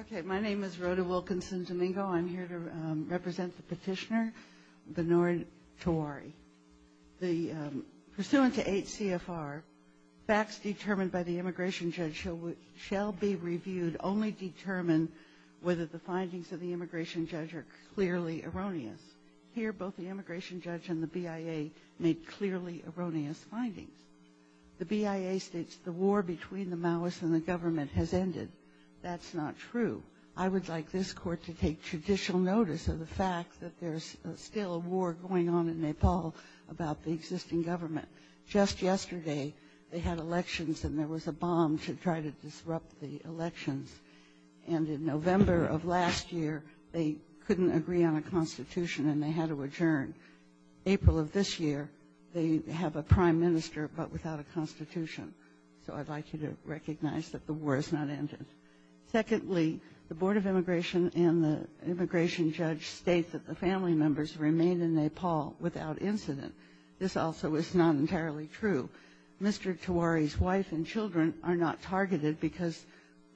Okay, my name is Rhoda Wilkinson Domingo. I'm here to represent the petitioner, Benod Tiwari. Pursuant to 8 CFR, facts determined by the immigration judge shall be reviewed, only determined whether the findings of the immigration judge are clearly erroneous. Here, both the immigration judge and the BIA made clearly erroneous findings. The BIA states the war between the Maoist and the government has ended. That's not true. I would like this Court to take judicial notice of the fact that there's still a war going on in Nepal about the existing government. Just yesterday, they had elections, and there was a bomb to try to disrupt the elections. And in November of last year, they couldn't agree on a constitution, and they had to adjourn. April of this year, they have a prime minister, but without a constitution. So I'd like you to recognize that the war has not ended. Secondly, the Board of Immigration and the immigration judge state that the family members remain in Nepal without incident. This also is not entirely true. Mr. Tiwari's wife and children are not targeted because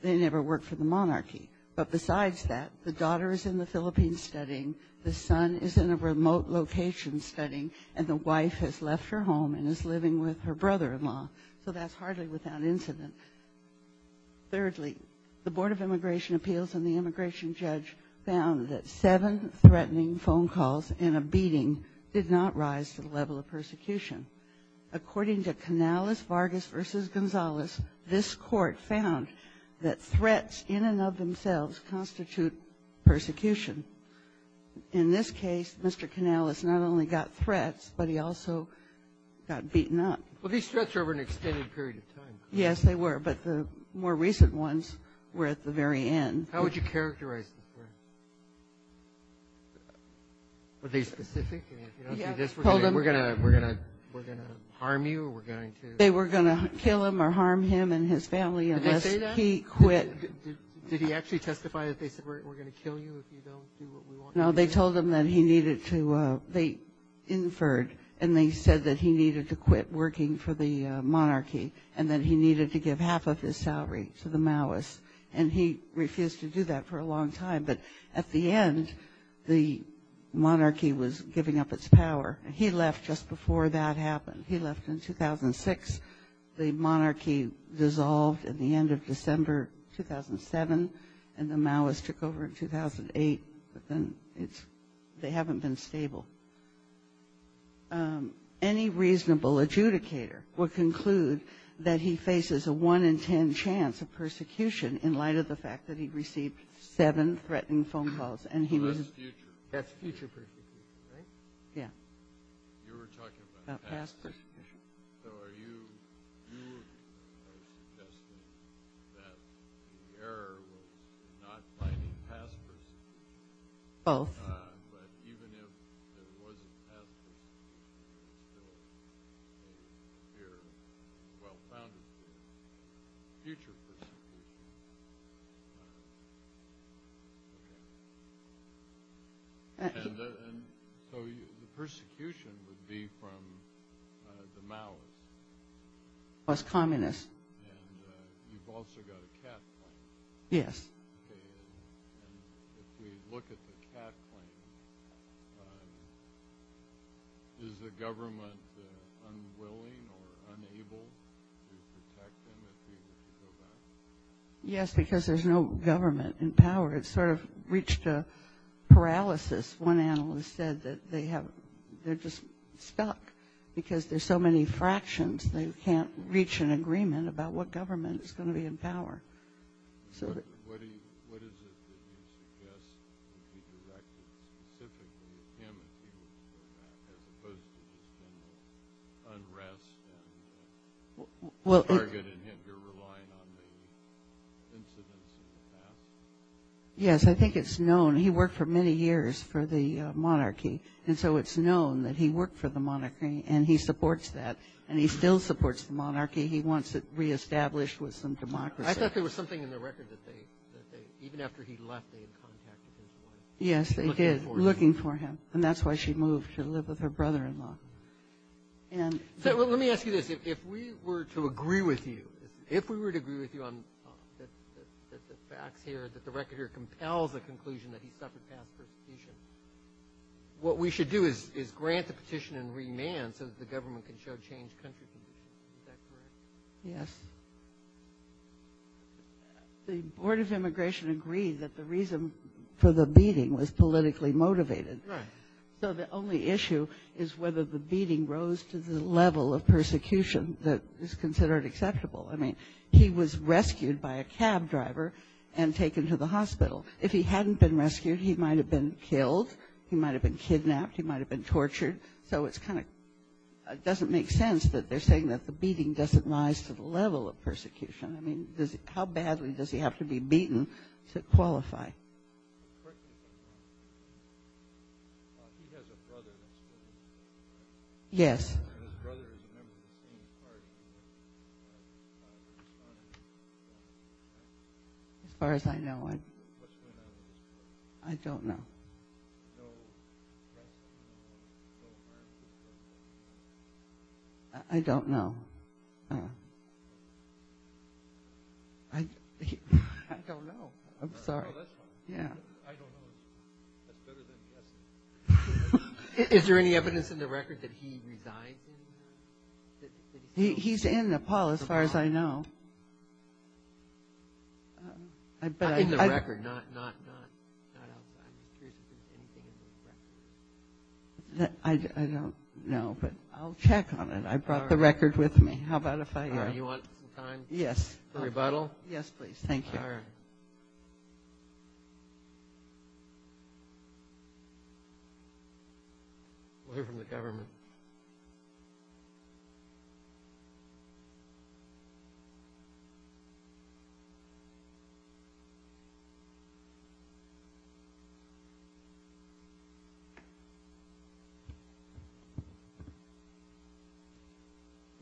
they never worked for the monarchy. But besides that, the daughter is in the Philippines studying, the son is in a remote location studying, and the wife has left her home and is living with her brother-in-law. So that's hardly without incident. Thirdly, the Board of Immigration Appeals and the immigration judge found that seven threatening phone calls and a beating did not rise to the level of persecution. According to Canales-Vargas v. Gonzalez, this Court found that threats in and of themselves constitute persecution. In this case, Mr. Canales not only got threats, but he also got beaten up. Well, these threats were over an extended period of time. Yes, they were. But the more recent ones were at the very end. How would you characterize the threats? Were they specific? I mean, if you don't do this, we're going to harm you or we're going to ---- They were going to kill him or harm him and his family unless he quit. Did he actually testify that they said, we're going to kill you if you don't do what we want you to do? No, they told him that he needed to, they inferred, and they said that he needed to quit working for the monarchy and that he needed to give half of his salary to the Maoists. And he refused to do that for a long time. But at the end, the monarchy was giving up its power. He left just before that happened. He left in 2006. The monarchy dissolved at the end of December 2007, and the Maoists took over in 2008. But then it's, they haven't been stable. Any reasonable adjudicator would conclude that he faces a 1 in 10 chance of persecution in light of the fact that he received seven threatening phone calls. And he was ---- That's future. That's future persecution, right? Yeah. You were talking about past persecution. So are you, you are suggesting that the error was not finding past persecution. Both. But even if there was a past persecution, it would still appear, well, found in the future persecution. Okay. And so the persecution would be from the Maoists. Plus communists. And you've also got a cat claim. Yes. Okay. And if we look at the cat claim, is the government unwilling or unable to protect him if he would go back? Yes, because there's no government in power. It's sort of reached a paralysis. One analyst said that they have, they're just stuck because there's so many fractions. They can't reach an agreement about what government is going to be in power. What is it that you suggest to be directed specifically at him as opposed to his general unrest and targeting him? You're relying on the incidents of the past? Yes. I think it's known. He worked for many years for the monarchy. And so it's known that he worked for the monarchy. And he supports that. And he still supports the monarchy. He wants it reestablished with some democracy. I thought there was something in the record that they, even after he left, they had contacted him for it. Yes, they did. Looking for him. And that's why she moved to live with her brother-in-law. Let me ask you this. If we were to agree with you, if we were to agree with you on the facts here, that the record here compels a conclusion that he suffered past persecution, what we should do is grant the petition and remand so that the government can show changed country. Is that correct? Yes. The Board of Immigration agreed that the reason for the beating was politically motivated. Right. So the only issue is whether the beating rose to the level of persecution that is considered acceptable. I mean, he was rescued by a cab driver and taken to the hospital. If he hadn't been rescued, he might have been killed. He might have been tortured. So it kind of doesn't make sense that they're saying that the beating doesn't rise to the level of persecution. I mean, how badly does he have to be beaten to qualify? Yes. As far as I know. I don't know. I don't know. I don't know. I'm sorry. No, that's fine. Yeah. I don't know. That's better than guessing. Is there any evidence in the record that he resides in Nepal? He's in Nepal, as far as I know. In the record, not outside. I don't know. I don't know. I don't know. I don't know. I don't know. I don't know. But I'll check on it. I brought the record with me. How about if I... All right. You want some time? Yes. For rebuttal? Yes, please. Thank you. All right. We're from the government. Good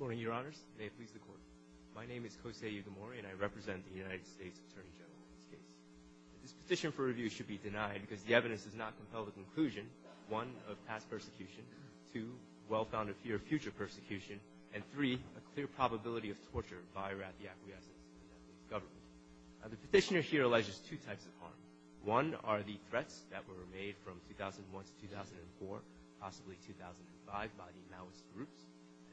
morning, Your Honors. May it please the Court. My name is Kosei Ugamori, and I represent the United States Attorney General in this case. This petition for review should be denied because the evidence does not compel the conclusion, one, of past persecution, two, well-founded fear of future persecution, and three, a clear probability of torture by or at the acquiescent government. The petitioner here alleges two types of harm. One are the threats that were made from 2001 to 2004, possibly 2005, by the Maoist groups,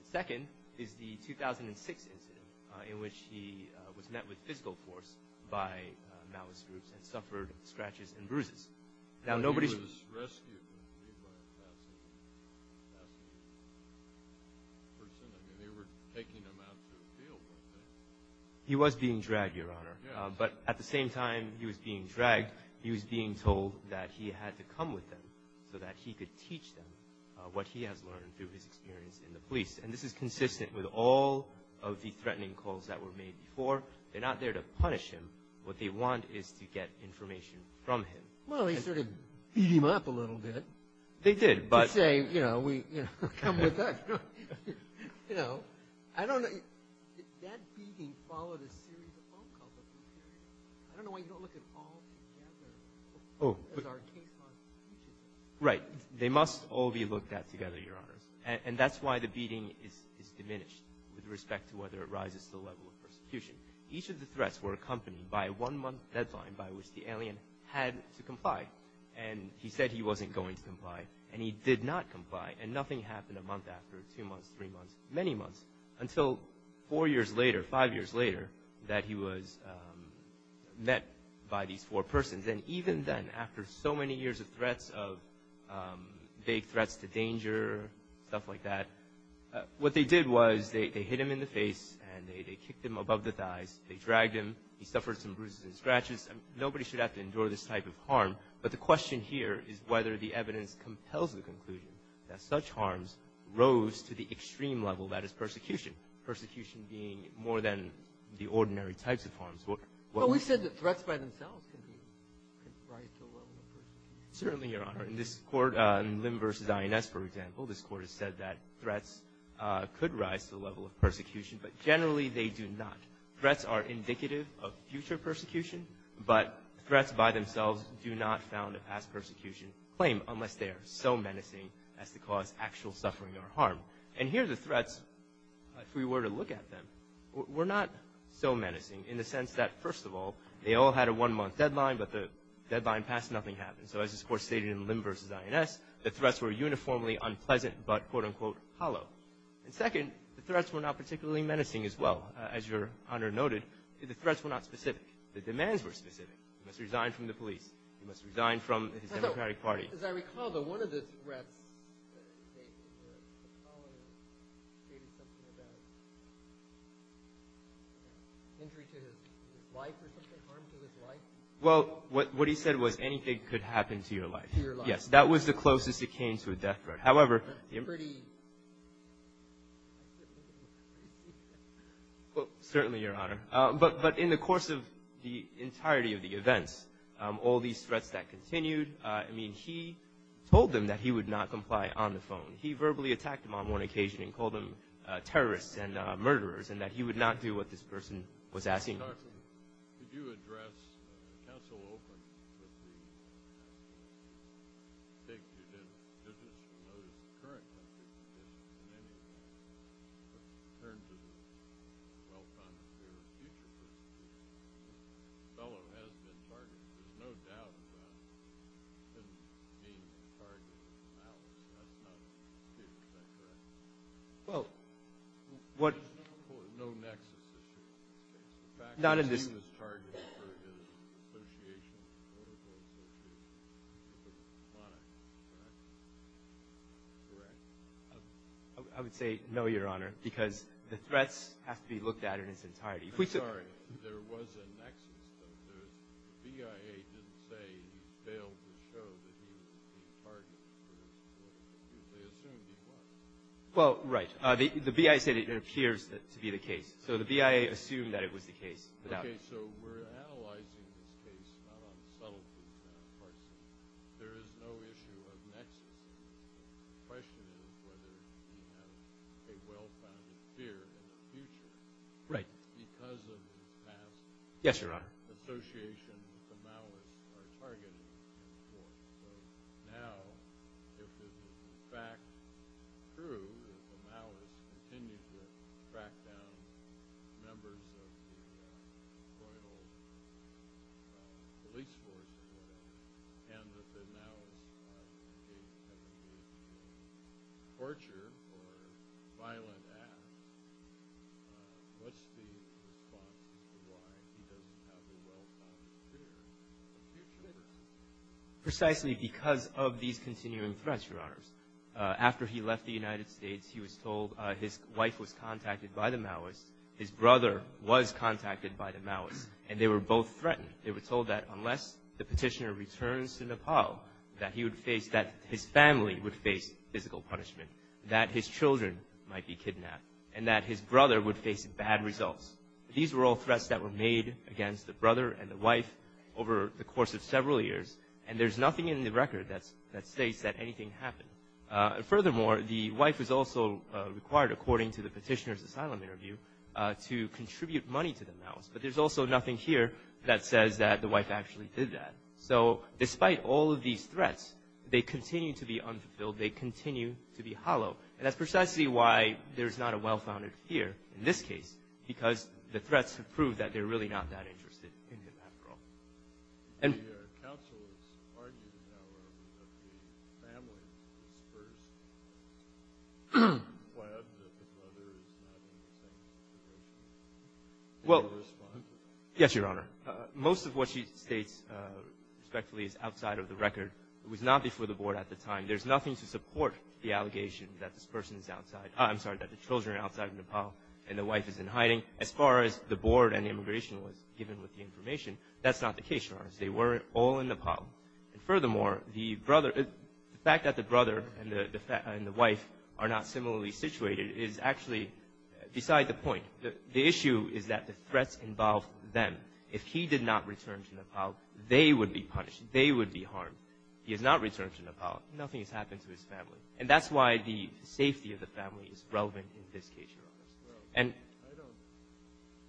and second is the 2006 incident in which he was met with physical force by Maoist groups and suffered scratches and bruises. Now, nobody... He was rescued and he was like that person. I mean, they were taking him out to a field one day. He was being dragged, Your Honor. Yes. But at the same time he was being dragged, he was being told that he had to come with them so that he could teach them what he has learned through his experience in the police. And this is consistent with all of the threatening calls that were made before. They're not there to punish him. What they want is to get information from him. Well, they sort of beat him up a little bit. They did, but... To say, you know, come with us. You know, I don't know... That beating followed a series of phone calls. I don't know why you don't look at all of them together. Oh, but... As our case law is changing. Right. They must all be looked at together, Your Honor. And that's why the beating is diminished with respect to whether it rises to the level of persecution. Each of the threats were accompanied by a one-month deadline by which the alien had to comply. And he said he wasn't going to comply. And he did not comply. And nothing happened a month after, two months, three months, many months, until four years later, five years later, that he was met by these four persons. And even then, after so many years of threats, of vague threats to danger, stuff like that, what they did was they hit him in the face and they kicked him above the thighs. They dragged him. He suffered some bruises and scratches. Nobody should have to endure this type of harm. But the question here is whether the evidence compels the conclusion that such harms rose to the extreme level that is persecution. Persecution being more than the ordinary types of harms. Well, we said that threats by themselves can rise to a level of persecution. Certainly, Your Honor. In this court, in Lim v. INS, for example, this court has said that threats could rise to the level of persecution, but generally they do not. Threats are indicative of future persecution, but threats by themselves do not found a past persecution claim unless they are so menacing as to cause actual suffering or harm. And here, the threats, if we were to look at them, were not so menacing in the sense that, first of all, they all had a one-month deadline, but the deadline passed, nothing happened. So as this court stated in Lim v. INS, the threats were uniformly unpleasant but, quote unquote, hollow. And second, the threats were not particularly menacing as well. As Your Honor noted, the threats were not specific. The demands were specific. He must resign from the police. He must resign from his Democratic Party. As I recall, though, one of the threats that he gave was that a colonel gave him something about injury to his life or something, harm to his life. Well, what he said was anything could happen to your life. To your life. Yes, that was the closest it came to a death threat. However... Pretty... Well, certainly, Your Honor. But in the course of the entirety of the events, all these threats that continued, I mean, he told them that he would not comply on the phone. He verbally attacked them on one occasion and called them terrorists and murderers and that he would not do what this person was asking him to do. Did you address counsel Oakland? I think you did. There's a note in the current... In terms of the well-considered future. The fellow has been targeted. There's no doubt about him being targeted now. That's not true. Is that correct? Well, what... There's no nexus. The fact that he was targeted for his association with political opposition is monotone, correct? I would say no, Your Honor, because the threats have to be looked at in its entirety. I'm sorry. There was a nexus, though. The BIA didn't say he failed to show that he was targeted for his political... They assumed he was. Well, right. The BIA said it appears to be the case. So the BIA assumed that it was the case. Okay, so we're analyzing this case, not on subtleties, but there is no issue of nexus. The question is whether he has a well-founded fear in the future. Right. Because of his past... Yes, Your Honor. ...association with the Maoists, he was targeted. So now, if the fact is true that the Maoists continue to track down members of the loyal police force and that the Maoists engage in torture or violent acts, what's the response to why he doesn't have a well-founded fear in the future? Precisely because of these continuing threats, Your Honors. After he left the United States, he was told his wife was contacted by the Maoists, his brother was contacted by the Maoists, and they were both threatened. They were told that unless the petitioner returns to Nepal, that his family would face physical punishment, that his children might be kidnapped, and that his brother would face bad results. These were all threats that were made against the brother and the wife over the course of several years, and there's nothing in the record that states that anything happened. Furthermore, the wife was also required, according to the petitioner's asylum interview, to contribute money to the Maoists. But there's also nothing here that says that the wife actually did that. So, despite all of these threats, they continue to be unfulfilled, they continue to be hollow, and that's precisely why there's not a well-founded fear in this case, because the threats have proved that they're really not that interested in Nepal. Your counsel is arguing that the family was first. Why other than that the brother is not in the family? Well, yes, Your Honor. Most of what she states, respectfully, is outside of the record. It was not before the Board at the time. There's nothing to support the allegation that this person is outside, I'm sorry, that the children are outside of Nepal and the wife is in hiding. As far as the Board and immigration was given with the information, that's not the case, Your Honor. They were all in Nepal. And furthermore, the fact that the brother and the wife are not similarly situated is actually beside the point. The issue is that the threats involve them. If he did not return to Nepal, they would be punished. They would be harmed. He has not returned to Nepal. Nothing has happened to his family. And that's why the safety of the family is relevant in this case, Your Honor. I don't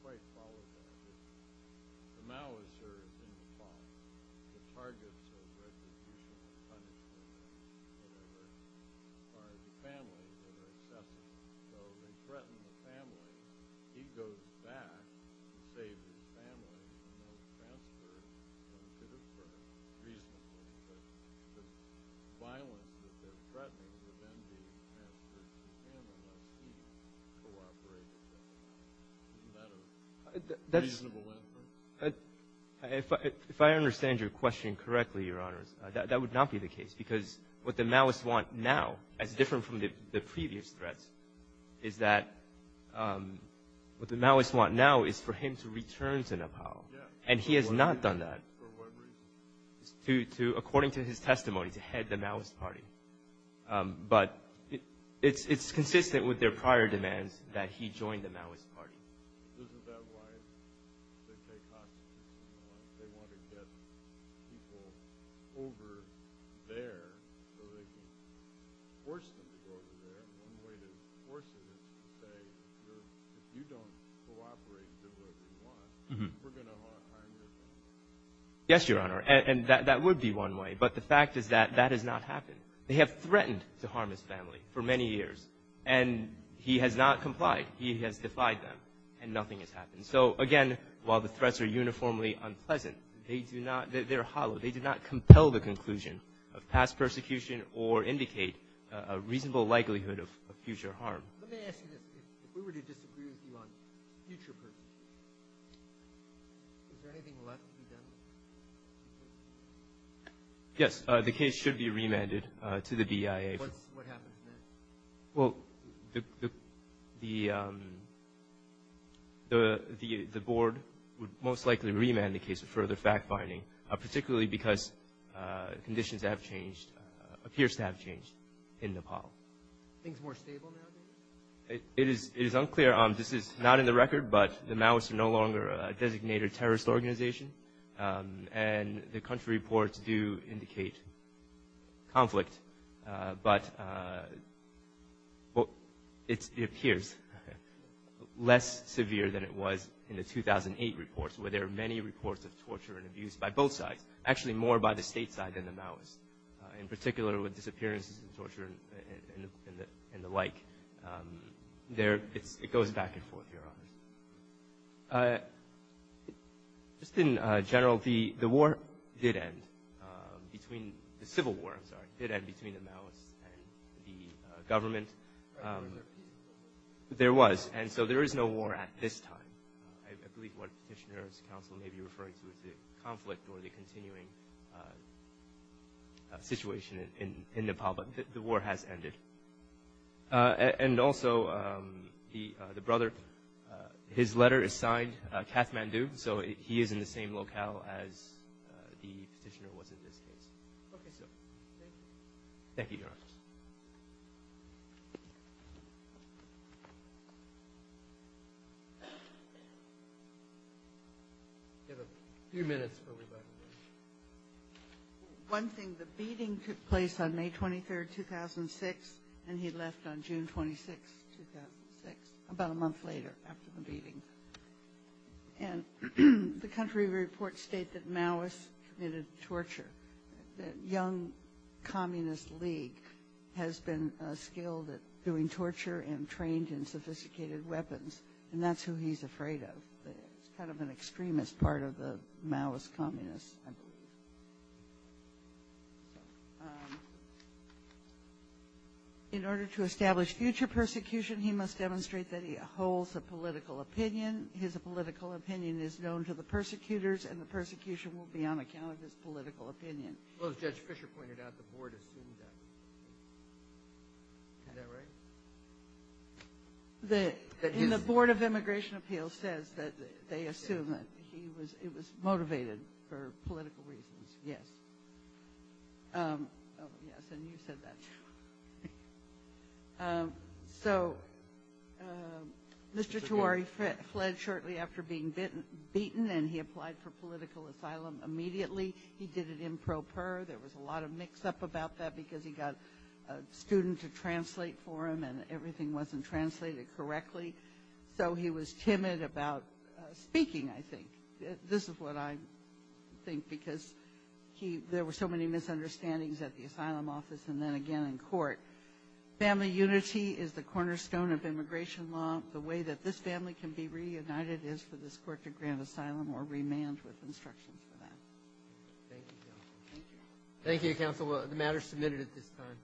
quite follow that. The Maoists are in Nepal. The target of the threats is to punish them. As far as the family, they are accepted. So they threaten the family. He goes back to save his family. He's no transfer from Pittsburgh. Reasonably, the violence that they're threatening would then be transferred to him unless he cooperates with them. Isn't that a reasonable inference? If I understand your question correctly, Your Honors, that would not be the case because what the Maoists want now, as different from the previous threats, is that what the Maoists want now is for him to return to Nepal. And he has not done that. According to his testimony, to head the Maoist Party. But it's consistent with their prior demands that he join the Maoist Party. Isn't that why they want to get people over there so they can force them to go over there? One way to force them is to say, if you don't cooperate and do what we want, we're going to harm your family. Yes, Your Honor. And that would be one way. But the fact is that that has not happened. They have threatened to harm his family for many years. And he has not complied. He has defied them. And nothing has happened. So, again, while the threats are uniformly unpleasant, they're hollow. They do not compel the conclusion of past persecution or indicate a reasonable likelihood of future harm. Let me ask you this. If we were to disagree with you on future persecution, is there anything left to be done? Yes. The case should be remanded to the BIA. What happens then? Well, the board would most likely remand the case of further fact-finding, particularly because conditions have changed, appears to have changed, in Nepal. Things more stable now, maybe? It is unclear. This is not in the record, but the Maoists are no longer a designated terrorist organization. And the country reports do indicate conflict. But it appears less severe than it was in the 2008 reports, where there are many reports of torture and abuse by both sides. Actually, more by the state side than the Maoists. In particular, with disappearances and torture and the like. It goes back and forth, Your Honor. Just in general, the war did end, the civil war, I'm sorry, the war did end between the Maoists and the government. There was. And so there is no war at this time. I believe what Petitioner's counsel may be referring to is the conflict or the continuing situation in Nepal. But the war has ended. And also, the brother, his letter is signed Kathmandu, so he is in the same locale as the petitioner was in this case. Okay, so. Thank you. Thank you, Your Honor. We have a few minutes for rebuttal. One thing, the beating took place on May 23rd, 2006, and he left on June 26th, 2006, about a month later after the beating. And the country reports state that Maoists committed torture. The Young Communist League has been skilled at doing torture and trained in sophisticated weapons. And that's who he's afraid of. It's kind of an extremist part of the Maoist communists, I believe. In order to establish future persecution, he must demonstrate that he holds a political opinion. His political opinion is known to the persecutors and the persecution will be on account of his political opinion. Well, as Judge Fisher pointed out, the board assumed that. Is that right? And the Board of Immigration Appeals says that they assume that he was, it was motivated for political reasons. Yes. Oh, yes, and you said that. So, Mr. Tewari fled shortly after being beaten and he applied for political asylum immediately. He did it improper. There was a lot of mix-up about that because he got a student to translate for him and everything wasn't translated correctly. So he was timid about speaking, I think. This is what I think because there were so many misunderstandings at the asylum office and then again in court. Family unity is the cornerstone of immigration law. The way that this family can be reunited is for this court to grant asylum or remand with instructions for that. Thank you, Counsel. Thank you. Thank you, Counsel. The matter is submitted at this time.